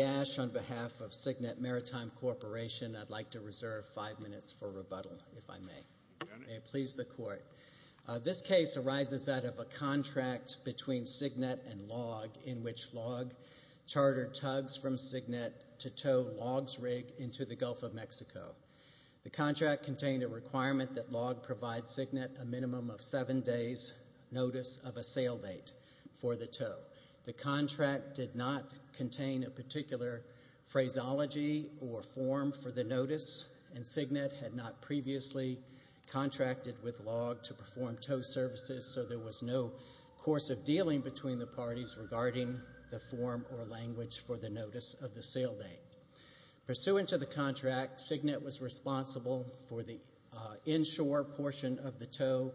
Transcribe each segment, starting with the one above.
on behalf of Signet Maritime Corporation, I'd like to reserve five minutes for rebuttal, if I may. May it please the Court. This case arises out of a contract between Signet and LLOG in which LLOG chartered tugs from Signet to tow LLOG's rig into the Gulf of Mexico. The contract contained a requirement that LLOG provide Signet a minimum of seven days' notice of a sale date for the tow. The contract did not contain a particular phraseology or form for the notice, and Signet had not previously contracted with LLOG to perform tow services, so there was no course of dealing between the parties regarding the form or language for the notice of the sale date. Pursuant to the contract, Signet was responsible for the inshore portion of the tow,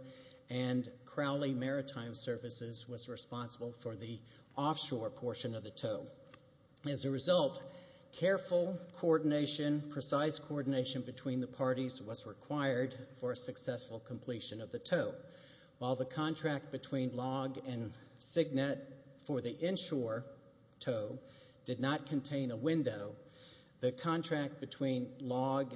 and Crowley Maritime Services was responsible for the offshore portion of the tow. As a result, careful coordination, precise coordination between the parties was required for a successful completion of the tow. While the contract between LLOG and Signet for the inshore tow did not contain a window, the contract between LLOG,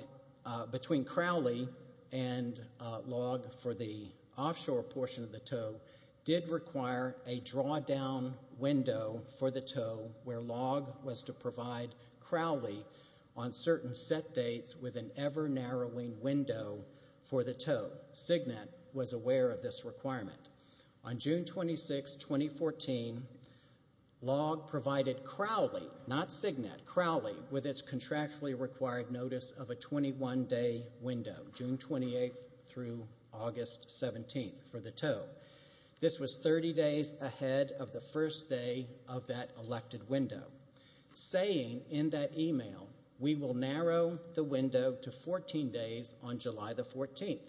between Crowley and LLOG for the offshore portion of the tow did require a drawdown window for the tow where LLOG was to provide Crowley on certain set dates with an ever-narrowing window for the tow. Signet was aware of this requirement. On June 26, 2014, LLOG provided Crowley, not Signet, Crowley with its contractually required notice of a 21-day window, June 28 through August 17 for the tow. This was 30 days ahead of the first day of that elected window, saying in that email, we will narrow the window to 14 days on July 14.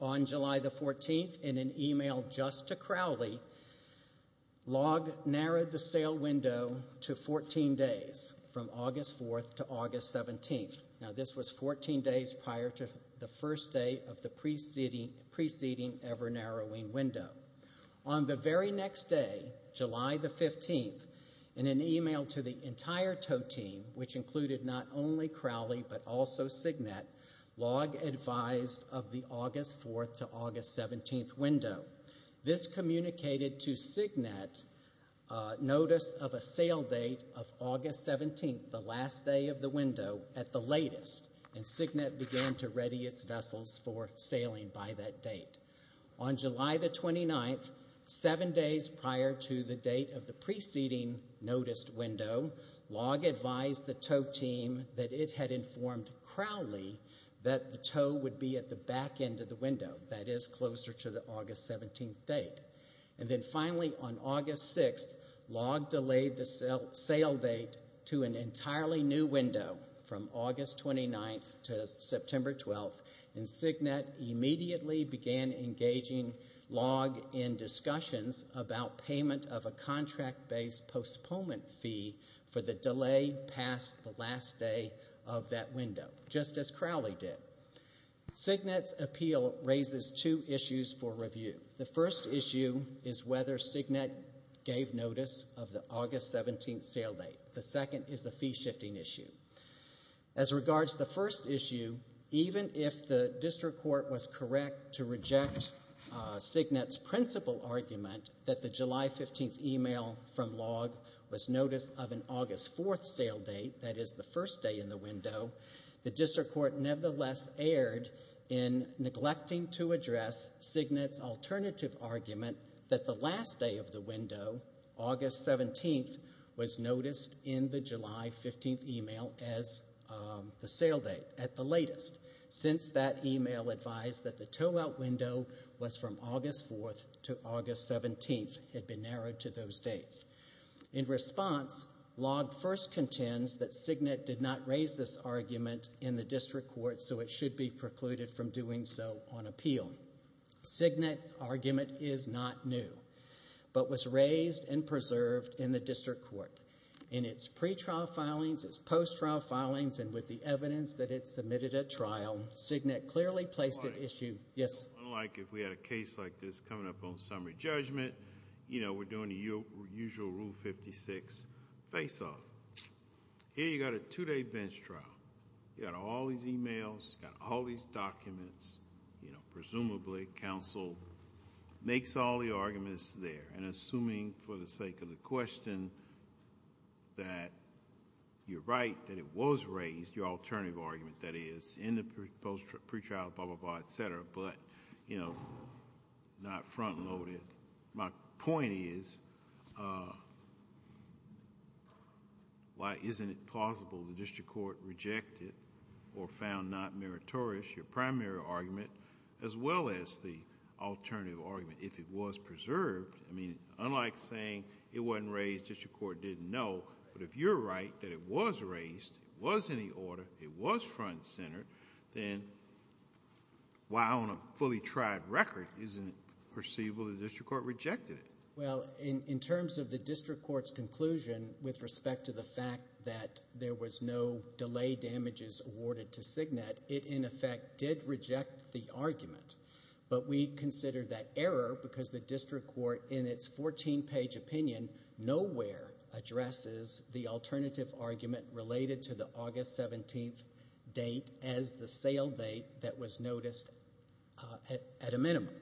On July 14, in an email just to Crowley, LLOG narrowed the sale window to 14 days from August 4 to August 17. Now this was 14 days prior to the first day of the preceding ever-narrowing window. On the very next day, July 15, in an email to the entire tow team, which included not only Crowley but also Signet, LLOG advised of the August 4 to August 17 window. This communicated to Signet notice of a sale date of August 17, the last day of the window, at the latest, and Signet began to ready its vessels for sailing by that date. On July 29, seven days prior to the date of the preceding noticed window, LLOG advised the tow team that it had informed Crowley that the tow would be at the back end of the window, that is, closer to the August 17 date. And then finally on August 6, LLOG delayed the sale date to an entirely new window from August 29 to September 12, and Signet immediately began engaging LLOG in discussions about payment of a contract-based postponement fee for the delay past the last day of that window, just as Crowley did. Signet's appeal raises two issues for review. The first issue is whether Signet gave notice of the August 17 sale date. The second is a fee-shifting issue. As regards the first issue, even if the district court was correct to reject Signet's principal argument that the July 15 email from LLOG was notice of an August 4 sale date, that is, the first day in the window, the district court nevertheless erred in neglecting to address Signet's alternative argument that the last day of the window, August 17, was noticed in the July 15 email as the sale date, at the latest, since that email advised that the tow-out window was from August 4 to August 17, had been narrowed to those dates. In response, LLOG first contends that Signet did not raise this argument in the district court, so it should be precluded from doing so on the basis that it was raised and preserved in the district court. In its pretrial filings, its post-trial filings, and with the evidence that it submitted at trial, Signet clearly placed an issue... Yes? Unlike if we had a case like this coming up on summary judgment, you know, we're doing the usual Rule 56 face-off. Here you've got a two-day bench trial. You've got all these emails. You've got all these questions for the sake of the question that you're right, that it was raised, your alternative argument, that is, in the pre-trial, blah, blah, blah, et cetera, but, you know, not front-loaded. My point is, why isn't it plausible the district court rejected or found not meritorious your primary argument as well as the alternative argument if it was preserved? I mean, unlike saying it wasn't raised, district court didn't know, but if you're right that it was raised, it was in the order, it was front-centered, then why on a fully tried record isn't it perceivable the district court rejected it? Well, in terms of the district court's conclusion with respect to the fact that there was no delay damages awarded to Cignet, it, in effect, did reject the argument, but we consider that error because the district court, in its 14-page opinion, nowhere addresses the alternative argument related to the August 17th date as the sale date that was noticed at a minimum,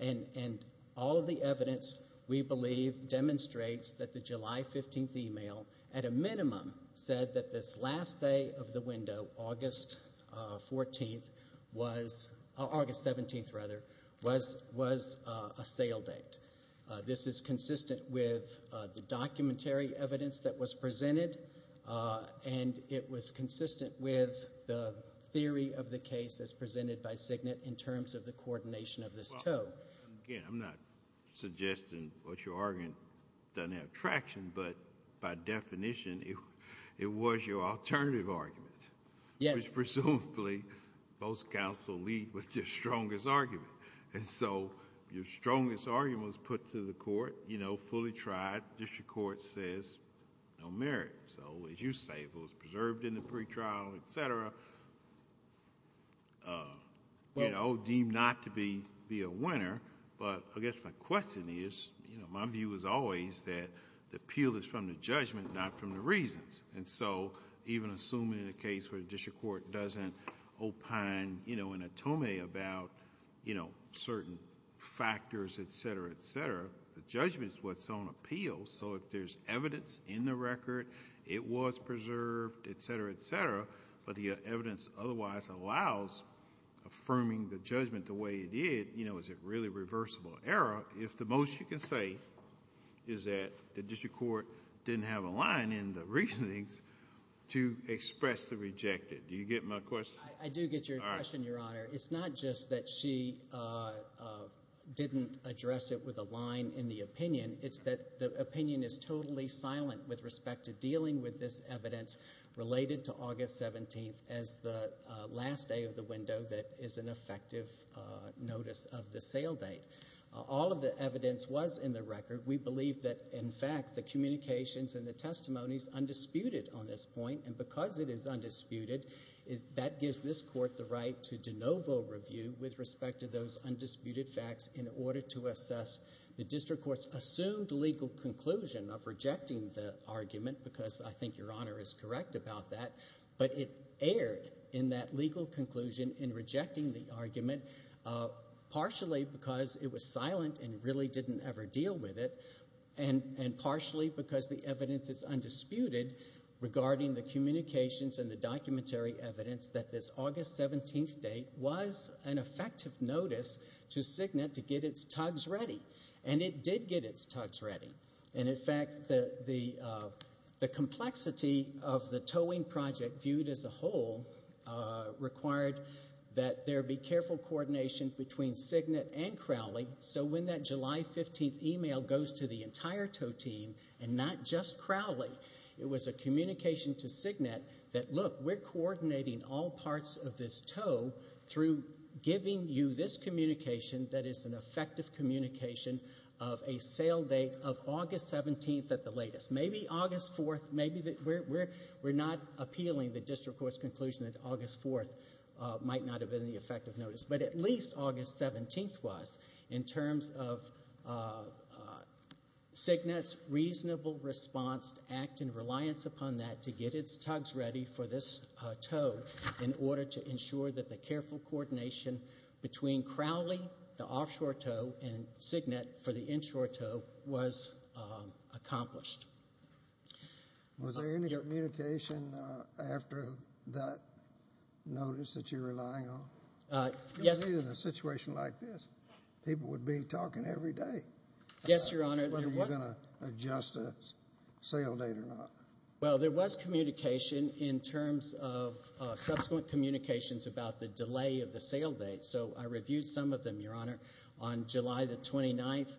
and all of the evidence, we believe, demonstrates that the July 15th email, at a minimum, said that this last day of the window, August 14th was, August 17th, rather, was a sale date. This is consistent with the documentary evidence that was presented, and it was consistent with the theory of the case as presented by Cignet in terms of the coordination of this too. Again, I'm not suggesting what you're arguing doesn't have traction, but by definition, it was your alternative argument. Yes. Presumably, both counsel lead with their strongest argument, and so your strongest argument was put to the court, you know, fully tried. District court says no merit, so as you say, it was preserved in the pretrial, et cetera, you know, deemed not to be a winner, but I guess my question is, you know, my view is always that the appeal is from the judgment, not from the reasons, and so even assuming a case where the district court doesn't opine, you know, in a Tome about, you know, certain factors, et cetera, et cetera, the judgment is what's on appeal, so if there's evidence in the record, it was preserved, et cetera, et cetera, but the evidence otherwise allows affirming the judgment the way it did, you know, is it really reversible error if the most you can say is that the district court didn't have a line in the reasonings to express the rejected? Do you get my question? I do get your question, Your Honor. It's not just that she didn't address it with a line in the opinion. It's that the opinion is totally silent with respect to dealing with this evidence related to August 17th as the last day of the window that is an effective notice of the sale date. All of the evidence was in the record. We believe that, in fact, the communications and the testimonies undisputed on this point, and because it is undisputed, that gives this court the right to de novo review with respect to those undisputed facts in order to assess the district court's assumed legal conclusion of rejecting the argument, because I think Your Honor is correct about that, but it erred in that legal conclusion in rejecting the argument, partially because it was silent and really didn't ever deal with it, and partially because the evidence is August 17th date was an effective notice to Signet to get its tugs ready, and it did get its tugs ready, and in fact, the complexity of the towing project viewed as a whole required that there be careful coordination between Signet and Crowley, so when that July 15th email goes to the entire tow team and not just Crowley, it was a communication to Signet that, look, we're coordinating all parts of this tow through giving you this communication that is an effective communication of a sale date of August 17th at the latest. Maybe August 4th. We're not appealing the district court's conclusion that August 4th might not have been the effective notice, but at least August 17th was in terms of Signet's reasonable response to act in reliance upon that to get its tugs ready for this tow in order to ensure that the careful coordination between Crowley, the offshore tow, and Signet for the inshore tow was accomplished. Was there any communication after that notice that you're relying on? Yes. In a situation like this, people would be talking every day. Yes, there was communication in terms of subsequent communications about the delay of the sale date, so I reviewed some of them, Your Honor. On July the 29th,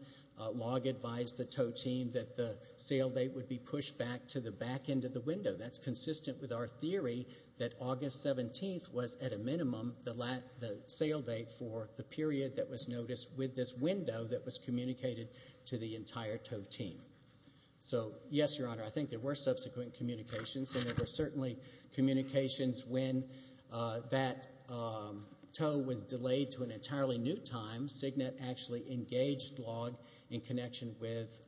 Log advised the tow team that the sale date would be pushed back to the back end of the window. That's consistent with our theory that August 17th was, at a minimum, the sale date for the period that was noticed with this window that was communicated to the entire tow team. So, yes, Your Honor, I think there were subsequent communications, and there were certainly communications when that tow was delayed to an entirely new time. Signet actually engaged Log in connection with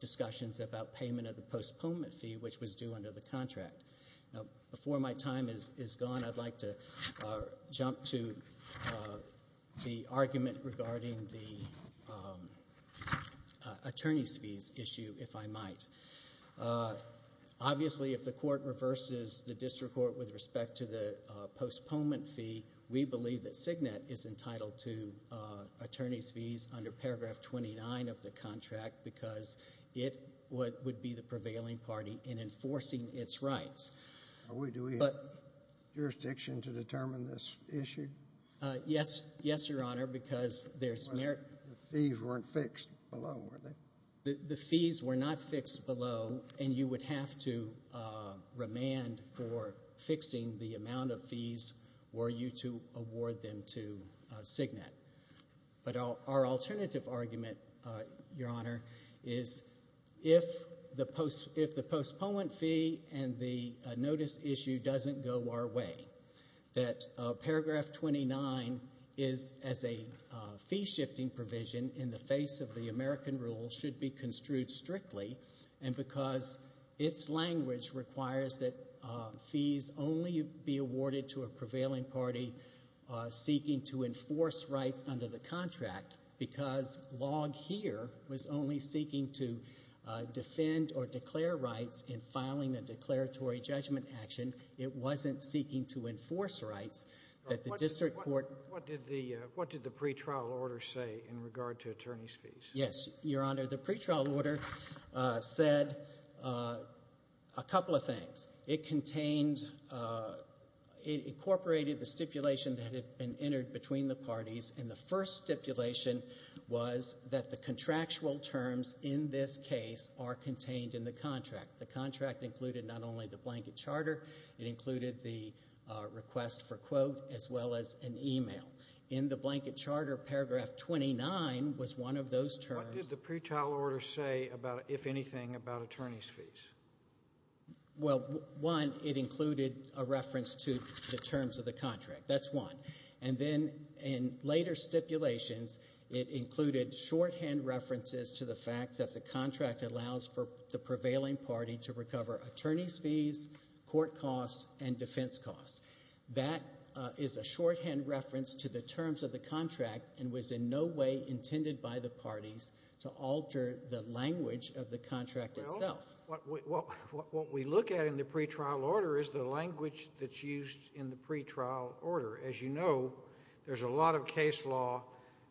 discussions about payment of the postponement fee, which was due under the contract. Before my time is gone, I'd like to jump to the argument regarding the attorney's fees issue, if I might. Obviously, if the court reverses the district court with respect to the postponement fee, we believe that Signet is entitled to attorney's fees under paragraph 29 of the contract because it would be the prevailing party in enforcing its rights. Do we have jurisdiction to determine this issue? Yes, Your Honor, because there's merit. The fees weren't fixed below, were they? The fees were not fixed below, and you would have to remand for fixing the amount of fees were you to award them to Signet. But our alternative argument, Your Honor, is if the postponement fee and the notice issue doesn't go our way, that paragraph 29 is, as a fee-shifting provision in the face of the American rule, should be construed strictly, and because its language requires that fees only be awarded to a prevailing party seeking to enforce rights under the contract, because Log here was only seeking to defend or declare rights in filing a declaratory judgment action, it wasn't seeking to enforce rights that the district court What did the pretrial order say in regard to attorney's fees? Yes, Your Honor, the pretrial order said a couple of things. It contained, it incorporated the stipulation that had been entered between the parties, and the first stipulation was that the contractual terms in this case are contained in the contract. The contract included not only the blanket charter, it included the request for quote, as well as an email. In the blanket charter, paragraph 29 was one of those terms. What did the pretrial order say about, if anything, about attorney's fees? Well, one, it included a reference to the terms of the contract. That's one. And then in later stipulations, it included shorthand references to the fact that the prevailing party to recover attorney's fees, court costs, and defense costs. That is a shorthand reference to the terms of the contract, and was in no way intended by the parties to alter the language of the contract itself. Well, what we look at in the pretrial order is the language that's used in the pretrial order. As you know, there's a lot of case law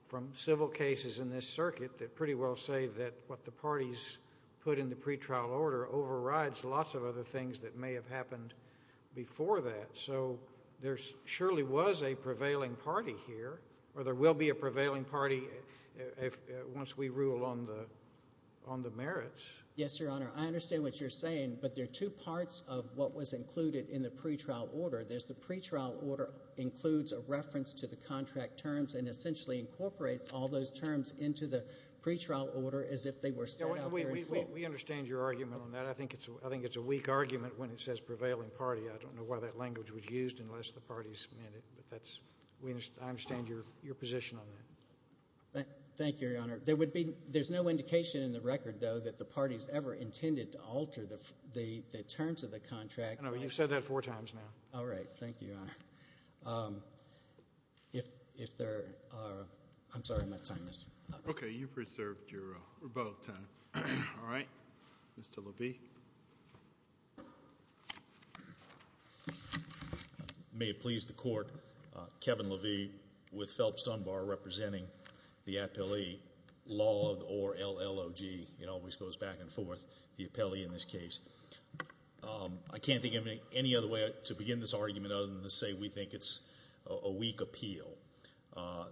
from civil cases in this circuit that pretty well say that what the parties put in the pretrial order overrides lots of other things that may have happened before that. So there surely was a prevailing party here, or there will be a prevailing party once we rule on the merits. Yes, Your Honor. I understand what you're saying, but there are two parts of what was included in the pretrial order. There's the pretrial order includes a reference to the pretrial order as if they were set up there itself. We understand your argument on that. I think it's a weak argument when it says prevailing party. I don't know why that language was used unless the parties meant it, but I understand your position on that. Thank you, Your Honor. There's no indication in the record, though, that the parties ever intended to alter the terms of the contract. No, you've said that four times now. All right. Thank you, Your Honor. May it please the Court, Kevin Levy with Phelps Dunbar representing the 24th, the appellee in this case. I can't think of any other way to begin this argument other than to say we think it's a weak appeal.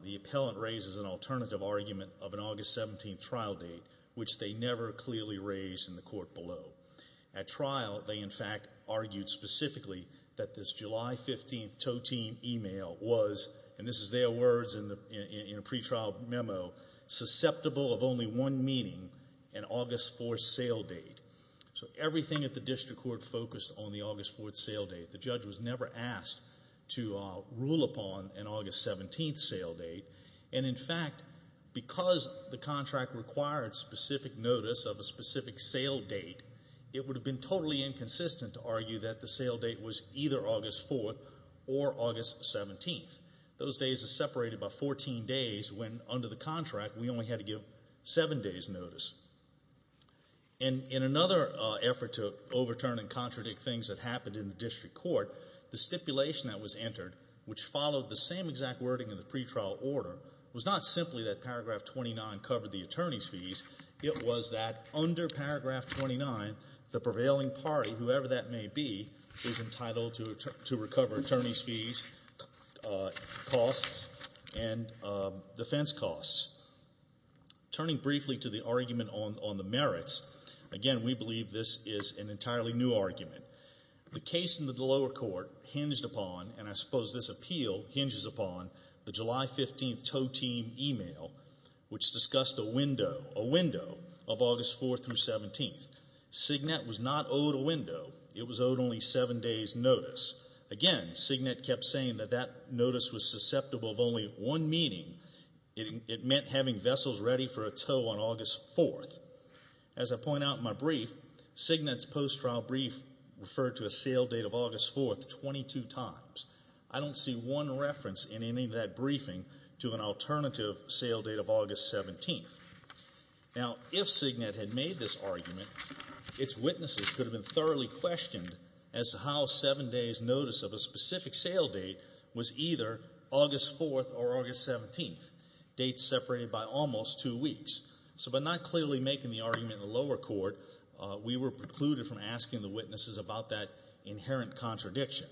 The appellant raises an alternative argument of an August 17th trial date, which they never clearly raised in the court below. At trial, they, in fact, argued specifically that this July 15th tow team email was, and this is their words in a pretrial memo, susceptible of only one meaning, an August 4th sale date. So everything at the district court focused on the August 4th sale date. The judge was never asked to rule upon an August 17th sale date, and in fact, because the contract required specific notice of a specific sale date, it would have been totally inconsistent to argue that the sale date was either August 4th or August 17th. Those days are separated by 14 days when, under the contract, we only had to give seven days' notice. And in another effort to overturn and contradict things that happened in the district court, the stipulation that was entered, which followed the same exact wording in the pretrial order, was not simply that paragraph 29 covered the attorney's fees. It was that under paragraph 29, the prevailing party, whoever that may be, is entitled to recover attorney's fees, costs, and defense costs. Turning briefly to the argument on the merits, again, we believe this is an entirely new argument. The case in the lower court hinged upon, and I suppose this appeal hinges upon, the July 15th tow team email, which discussed a window of August 4th through 17th. Cignet was not owed a window. It was owed only seven days' notice. Again, Cignet kept saying that that notice was susceptible of only one meaning. It meant having vessels ready for a tow on August 4th. As I point out in my brief, Cignet's post-trial brief referred to a sale date of August 4th 22 times. I don't see one reference in any of that briefing to an alternative sale date of August 17th. Now, if Cignet had made this argument, its witnesses could have been thoroughly questioned as to how seven days' notice of a specific sale date was either August 4th or August 17th, dates separated by almost two weeks. So by not clearly making the argument in the lower court, we were precluded from asking the witnesses about that inherent contradiction.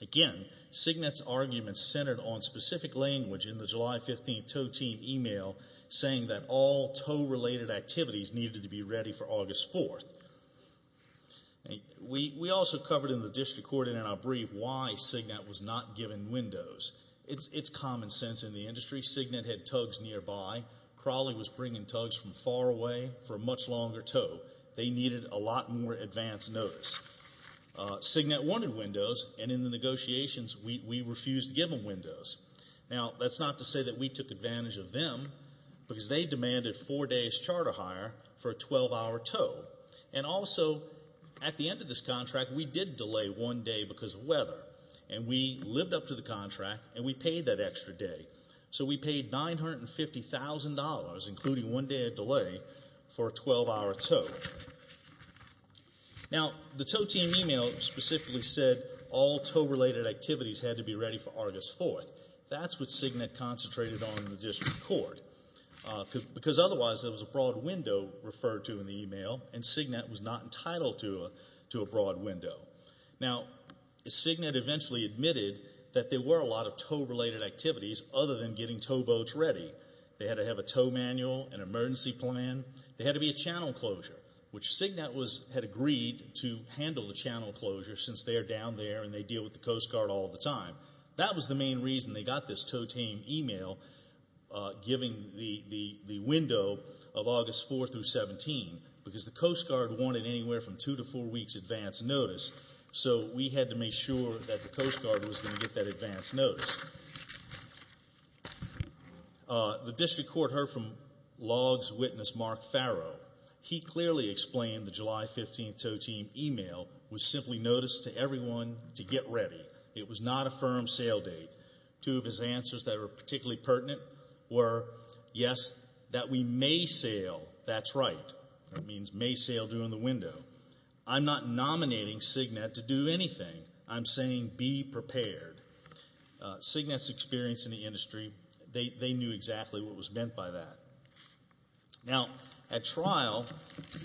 Again, Cignet's argument centered on specific language in the July 15th tow team email saying that all tow-related activities needed to be ready for August 4th. We also covered in the district court and in our brief why Cignet was not given windows. It's common sense in the industry. Cignet had tugs nearby. Crawley was bringing tugs from far away for a much longer tow. They needed a lot more advance notice. Cignet wanted windows, and in the negotiations we refused to give them windows. Now, that's not to say that we took advantage of them, because they demanded four days' charter hire for a 12-hour tow. And also, at the end of this contract, we did delay one day because of weather. And we lived up to the contract, and we paid that extra day. So we paid $950,000, including one day of delay, for a 12-hour tow. Now, the tow team email specifically said all tow-related activities had to be ready for August 4th. That's what Cignet concentrated on in the district court, because otherwise there was a broad window referred to in the email, and Cignet eventually admitted that there were a lot of tow-related activities other than getting towboats ready. They had to have a tow manual, an emergency plan. There had to be a channel closure, which Cignet had agreed to handle the channel closure, since they are down there and they deal with the Coast Guard all the time. That was the main reason they got this tow team email giving the window of August 4th through 17th, because the Coast Guard wanted anywhere from two to four weeks advance notice. So we had to make sure that the Coast Guard was going to get that advance notice. The district court heard from logs witness Mark Farrow. He clearly explained the July 15th tow team email was simply notice to everyone to get ready. It was not a firm sale date. Two of his answers that were particularly pertinent were, yes, that we may sale, that's right. That means may sale during the window. I'm not nominating Cignet to do anything. I'm saying be prepared. Cignet's experience in the industry, they knew exactly what was meant by that. Now, at trial,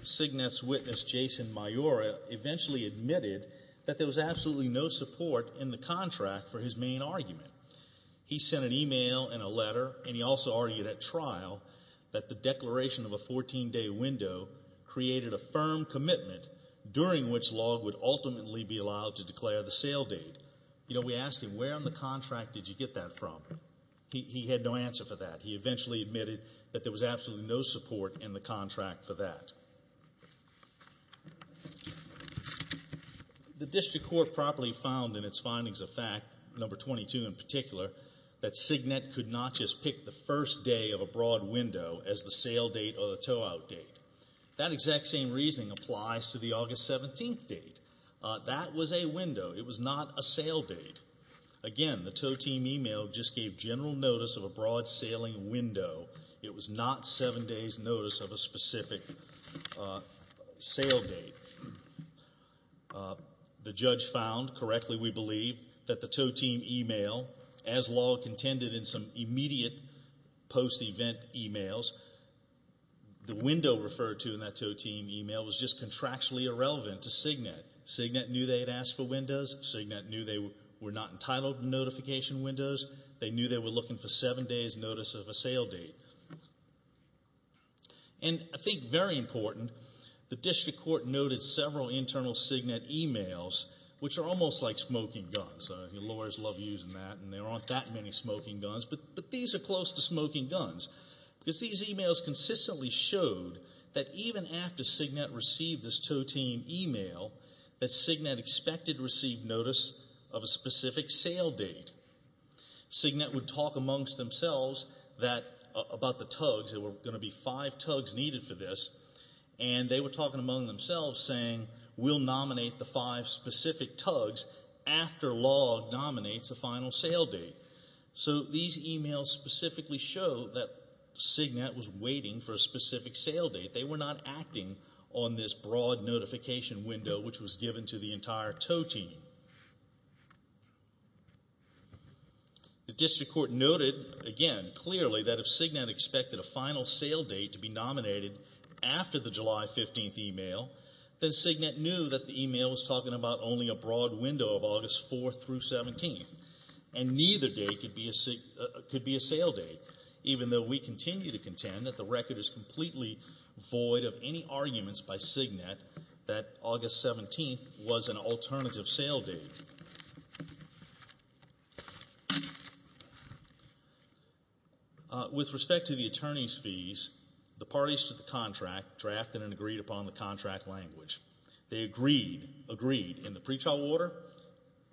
Cignet's witness Jason Maiora eventually admitted that there was absolutely no support in the contract for his main argument. He sent an email and a letter, and he also argued at trial that the declaration of a 14-day window created a firm commitment during which log would ultimately be allowed to declare the sale date. We asked him, where on the contract did you get that from? He had no answer for that. He eventually admitted that there was absolutely no support in the contract for that. The district court properly found in its findings of fact, number 22 in particular, that Cignet could not just pick the first day of a broad window as the sale date or the tow out date. That exact same reasoning applies to the August 17th date. That was a window. It was not a sale date. Again, the tow team email just gave general notice of a sale date. The judge found correctly, we believe, that the tow team email, as log contended in some immediate post-event emails, the window referred to in that tow team email was just contractually irrelevant to Cignet. Cignet knew they had asked for windows. Cignet knew they were not entitled to notification windows. They knew they were looking for seven days notice of a sale date. I think very important, the district court noted several internal Cignet emails, which are almost like smoking guns. Lawyers love using that and there aren't that many smoking guns, but these are close to smoking guns. These emails consistently showed that even after Cignet received this tow team email, that Cignet expected to receive notice of a specific sale date. Cignet would talk amongst themselves about the tugs. There were going to be five tugs needed for this. They were talking among themselves saying, we'll nominate the five specific tugs after law nominates the final sale date. These emails specifically show that Cignet was waiting for a specific sale date. They were not acting on this broad notification window, which was given to the entire tow team. The district court noted again clearly that if Cignet expected a final sale date to be nominated after the July 15th email, then Cignet knew that the email was talking about only a broad window of August 4th through 17th. Neither date could be a sale date, even though we continue to contend that the record is completely void of any arguments by Cignet that August 17th was an alternative sale date. With respect to the attorney's fees, the parties to the contract drafted and agreed upon the contract language. They agreed in the pretrial order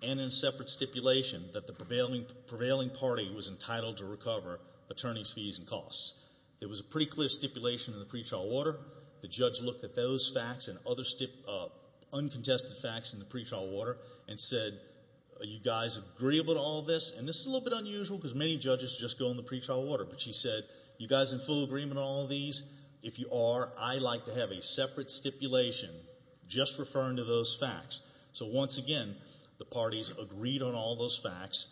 and in separate stipulation that the prevailing party was entitled to recover attorney's fees and costs. There was a pretty clear stipulation in the pretrial order. The judge looked at those facts and other uncontested facts in the pretrial order and said, you guys agree about all this? This is a little bit unusual because many judges just go in the pretrial order. She said, you guys in full agreement on all these? If you are, I'd like to have a separate stipulation just referring to those facts. So once again, the parties agreed on all those facts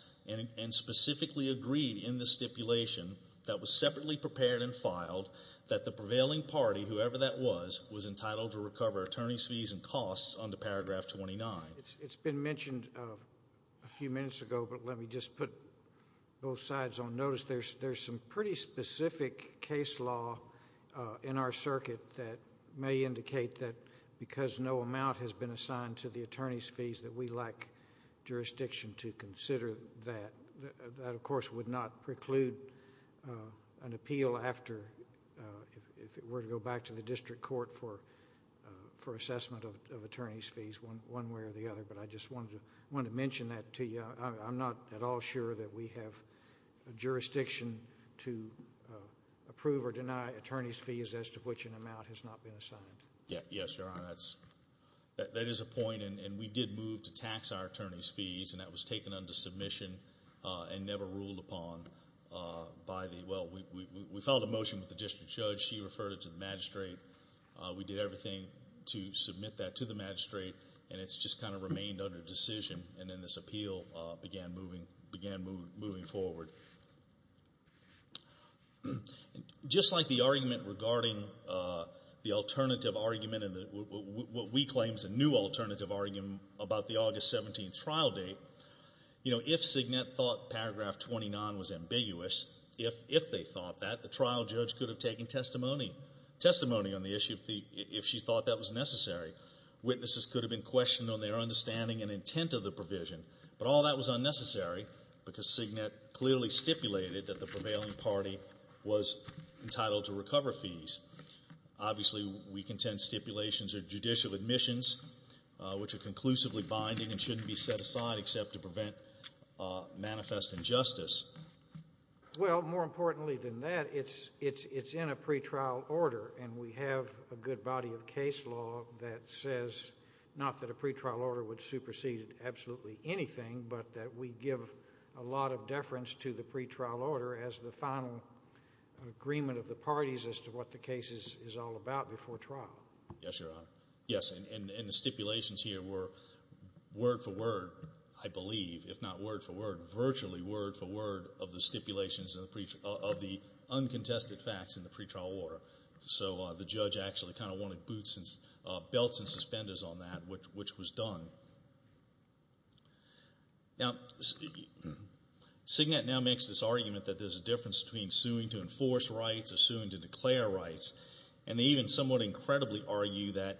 and specifically agreed in the stipulation that was separately prepared and filed that the prevailing party, whoever that was, was entitled to recover attorney's fees and costs under paragraph 29. It's been mentioned a few minutes ago, but let me just put both sides on notice. There's some pretty specific case law in our circuit that may indicate that because no amount has been assigned to the attorney's fees that we lack jurisdiction to consider that. That, of course, would not preclude an appeal after, if it were to go back to the district court for assessment of attorney's fees one way or the other, but I just wanted to mention that to you. I'm not at all sure that we have jurisdiction to approve or deny attorney's fees as to which an amount has not been assigned. Yes, Your Honor. That is a point and we did move to tax our attorney's fees and that was taken under submission and never ruled upon by the, well, we filed a motion with the district judge. She referred it to the magistrate. We did everything to make sure that it was taken into consideration. Just like the argument regarding the alternative argument, what we claim is a new alternative argument about the August 17th trial date, if Signet thought paragraph 29 was ambiguous, if they thought that, the trial judge could have taken testimony on the issue if she thought that was necessary. Witnesses could have been questioned on their understanding and intent of the provision, but all that was unnecessary because Signet clearly stipulated that the prevailing party was entitled to recover fees. Obviously, we contend stipulations are judicial admissions, which are conclusively binding and shouldn't be set aside except to prevent manifest injustice. Well, more importantly than that, it's in a pretrial order and we have a good body of case law that says not that a pretrial order would supersede absolutely anything, but that we give a lot of deference to the pretrial order as the final agreement of the parties as to what the case is all about before trial. Yes, Your Honor. Yes, and the stipulations here were word for word, I believe, if not word for word, in the pretrial order. So the judge actually kind of wanted boots and belts and suspenders on that, which was done. Now, Signet now makes this argument that there's a difference between suing to enforce rights or suing to declare rights, and they even somewhat incredibly argue that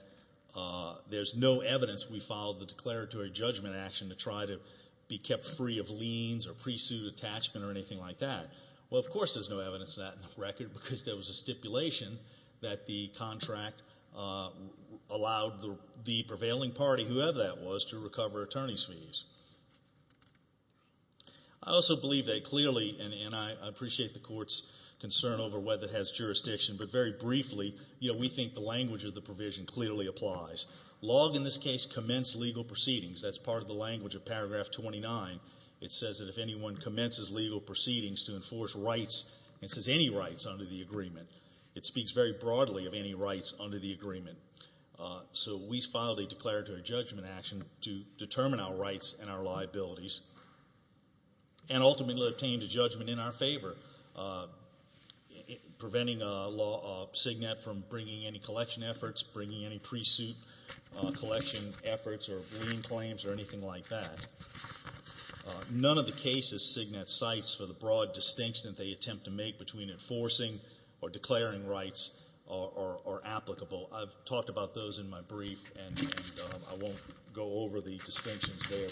there's no evidence we followed the declaratory judgment action to try to be kept free of liens or pre-suit attachment or anything like that. Well, of course there's no evidence of that in the record because there was a stipulation that the contract allowed the prevailing party, whoever that was, to recover attorney's fees. I also believe that clearly, and I appreciate the Court's concern over whether it has jurisdiction, but very briefly, we think the language of the provision clearly applies. Log, in this case, commenced legal proceedings. That's part of the language of Paragraph 29. It says that if anyone commences legal proceedings to enforce rights, it says any rights under the agreement. It speaks very broadly of any rights under the agreement. So we filed a declaratory judgment action to determine our rights and our liabilities and ultimately obtained a judgment in our favor, preventing Signet from bringing any collection efforts, bringing any pre-suit collection efforts or lien claims or anything like that. None of the cases Signet cites for the broad distinction that they attempt to make between enforcing or declaring rights are applicable. I've talked about those in my brief, and I won't go over the distinctions there,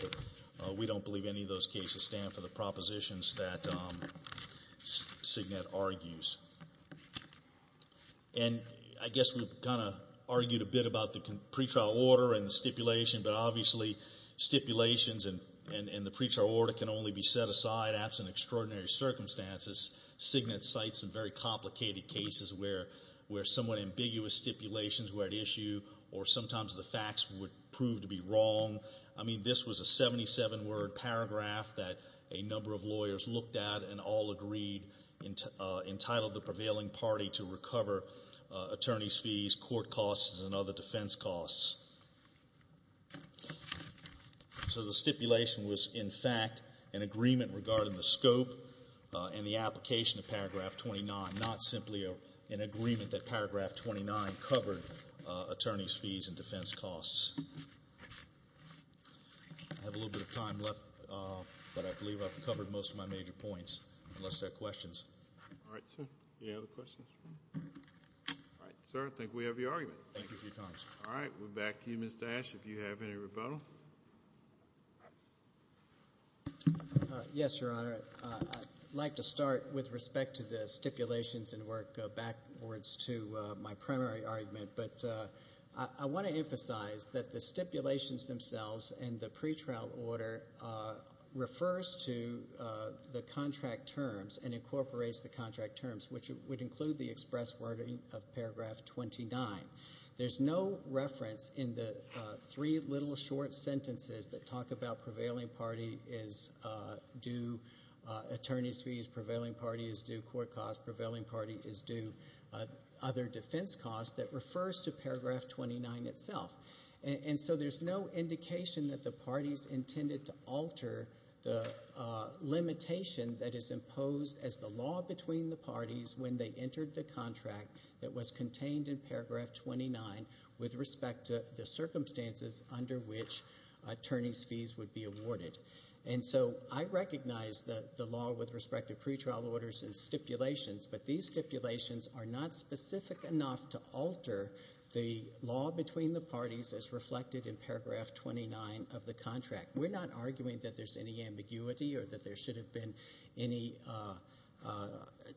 but we don't believe any of those cases stand for the propositions that Signet argues. And I guess we've kind of argued a bit about the pretrial order and the stipulation, but obviously stipulations and the pretrial order can only be set aside absent extraordinary circumstances. Signet cites some very complicated cases where somewhat ambiguous stipulations were at issue or sometimes the facts would prove to be wrong. I mean, this was a 77-word paragraph that a number of lawyers looked at and all agreed entitled the prevailing party to recover attorney's fees, court costs, and other defense costs. So the stipulation was in fact an agreement regarding the scope and the application of paragraph 29, not simply an agreement that paragraph 29 covered attorney's fees and defense costs. I have a little bit of time left, but I believe I've covered most of my major points, unless there are questions. All right, sir. Any other questions? All right, sir. I think we have your argument. Thank you for your time, sir. All right. We're back to you, Mr. Ashe, if you have any rebuttal. Yes, Your Honor. I'd like to start with respect to the stipulations and work backwards to my primary argument, but I want to emphasize that the stipulations themselves and the pretrial order refers to the contract terms and incorporates the contract terms, which would include the express wording of paragraph 29. There's no reference in the three little short sentences that talk about prevailing party is due attorney's fees, prevailing party is due court costs, prevailing party is due other defense costs that refers to paragraph 29 itself. And so there's no indication that the parties intended to alter the limitation that is imposed as the law between the parties when they entered the contract that was contained in paragraph 29 with respect to the circumstances under which attorney's fees would be awarded. And so I recognize the law with respect to pretrial orders and stipulations, but these stipulations are not specific enough to alter the law between the parties as reflected in paragraph 29 of the contract. We're not arguing that there's any ambiguity or that there should have been any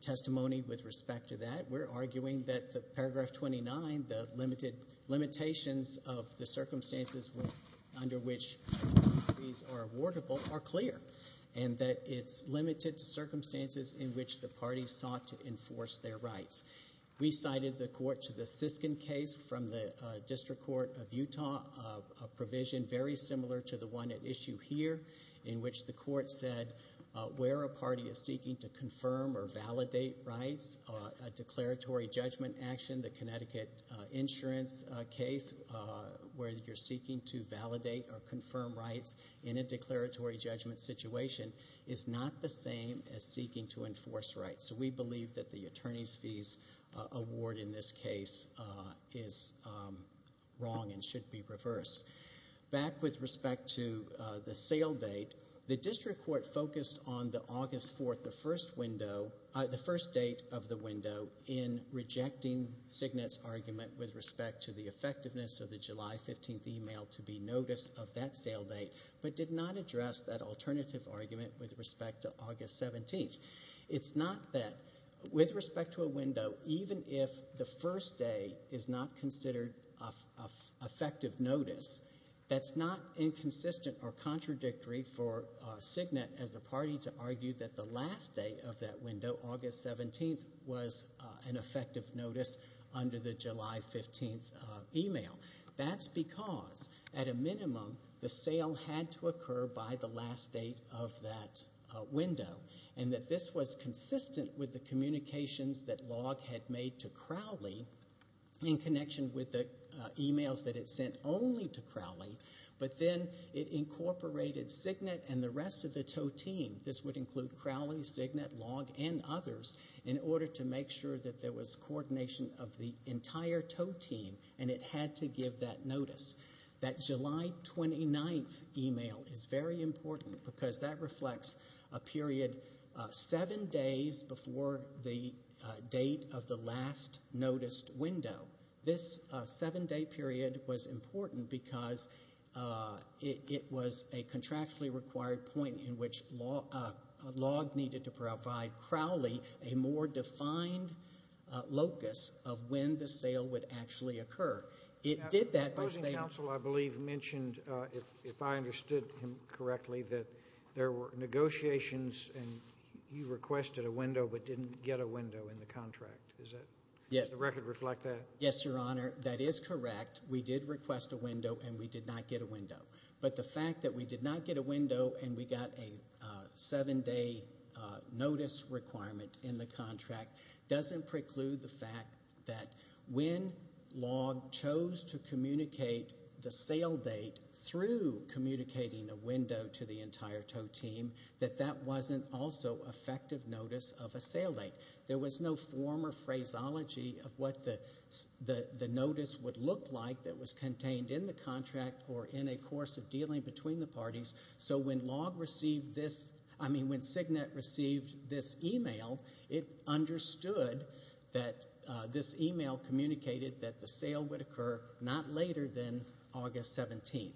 testimony with respect to that. We're arguing that the paragraph 29, the limitations of the circumstances under which attorney's fees are awardable are clear and that it's limited to circumstances in which the parties sought to enforce their rights. We cited the court to the Siskin case from the District Court of Utah, a provision very similar to the one at issue here in which the court said where a party is seeking to confirm or validate rights, a declaratory judgment action, the Connecticut insurance case where you're seeking to validate or confirm rights in a declaratory judgment situation is not the same as seeking to enforce rights. So we believe that the attorney's fees award in this case is wrong and should be reversed. Back with respect to the sale date, the District Court focused on the August 4th, the first window, the first date of the window in rejecting Signet's argument with respect to the effectiveness of the July 15th email to be noticed of that sale date, but did not say that with respect to a window, even if the first day is not considered effective notice, that's not inconsistent or contradictory for Signet as a party to argue that the last day of that window, August 17th, was an effective notice under the July 15th email. That's because at a minimum the sale had to occur by the July 15th email, in connection with the communications that Log had made to Crowley, in connection with the emails that it sent only to Crowley, but then it incorporated Signet and the rest of the Toe Team. This would include Crowley, Signet, Log, and others in order to make sure that there was coordination of the entire Toe Team and it had to give that notice. That July 29th email is very important because that reflects a period seven days before the date of the last noticed window. This seven day period was important because it was a contractually required point in which Log needed to provide Crowley a more defined locus of when the sale would actually occur. The opposing counsel, I believe, mentioned, if I understood him correctly, that there were negotiations and he requested a window but didn't get a window in the contract. Does the record reflect that? Yes, Your Honor. That is correct. We did request a window and we did not get a window. But the fact that we did not get a window and we got a seven day notice requirement in the contract and we chose to communicate the sale date through communicating a window to the entire Toe Team, that that wasn't also effective notice of a sale date. There was no former phraseology of what the notice would look like that was contained in the contract or in a course of dealing between the parties. So when Signet received this email, it was not later than August 17th.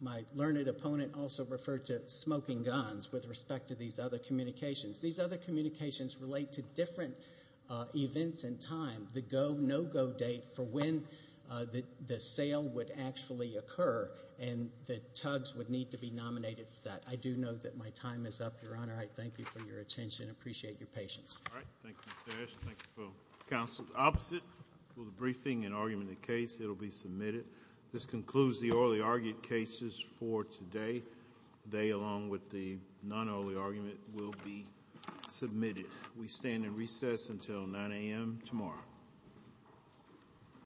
My learned opponent also referred to smoking guns with respect to these other communications. These other communications relate to different events in time, the go, no go date for when the sale would actually occur and the Tugs would need to be nominated for that. I do know that my time is up, Your Honor. I thank you for your attention and appreciate your patience. Opposite, will the briefing and argument of the case, it will be submitted. This concludes the orally argued cases for today. They, along with the non-orally argument, will be submitted. We stand in recess until 9 a.m. tomorrow.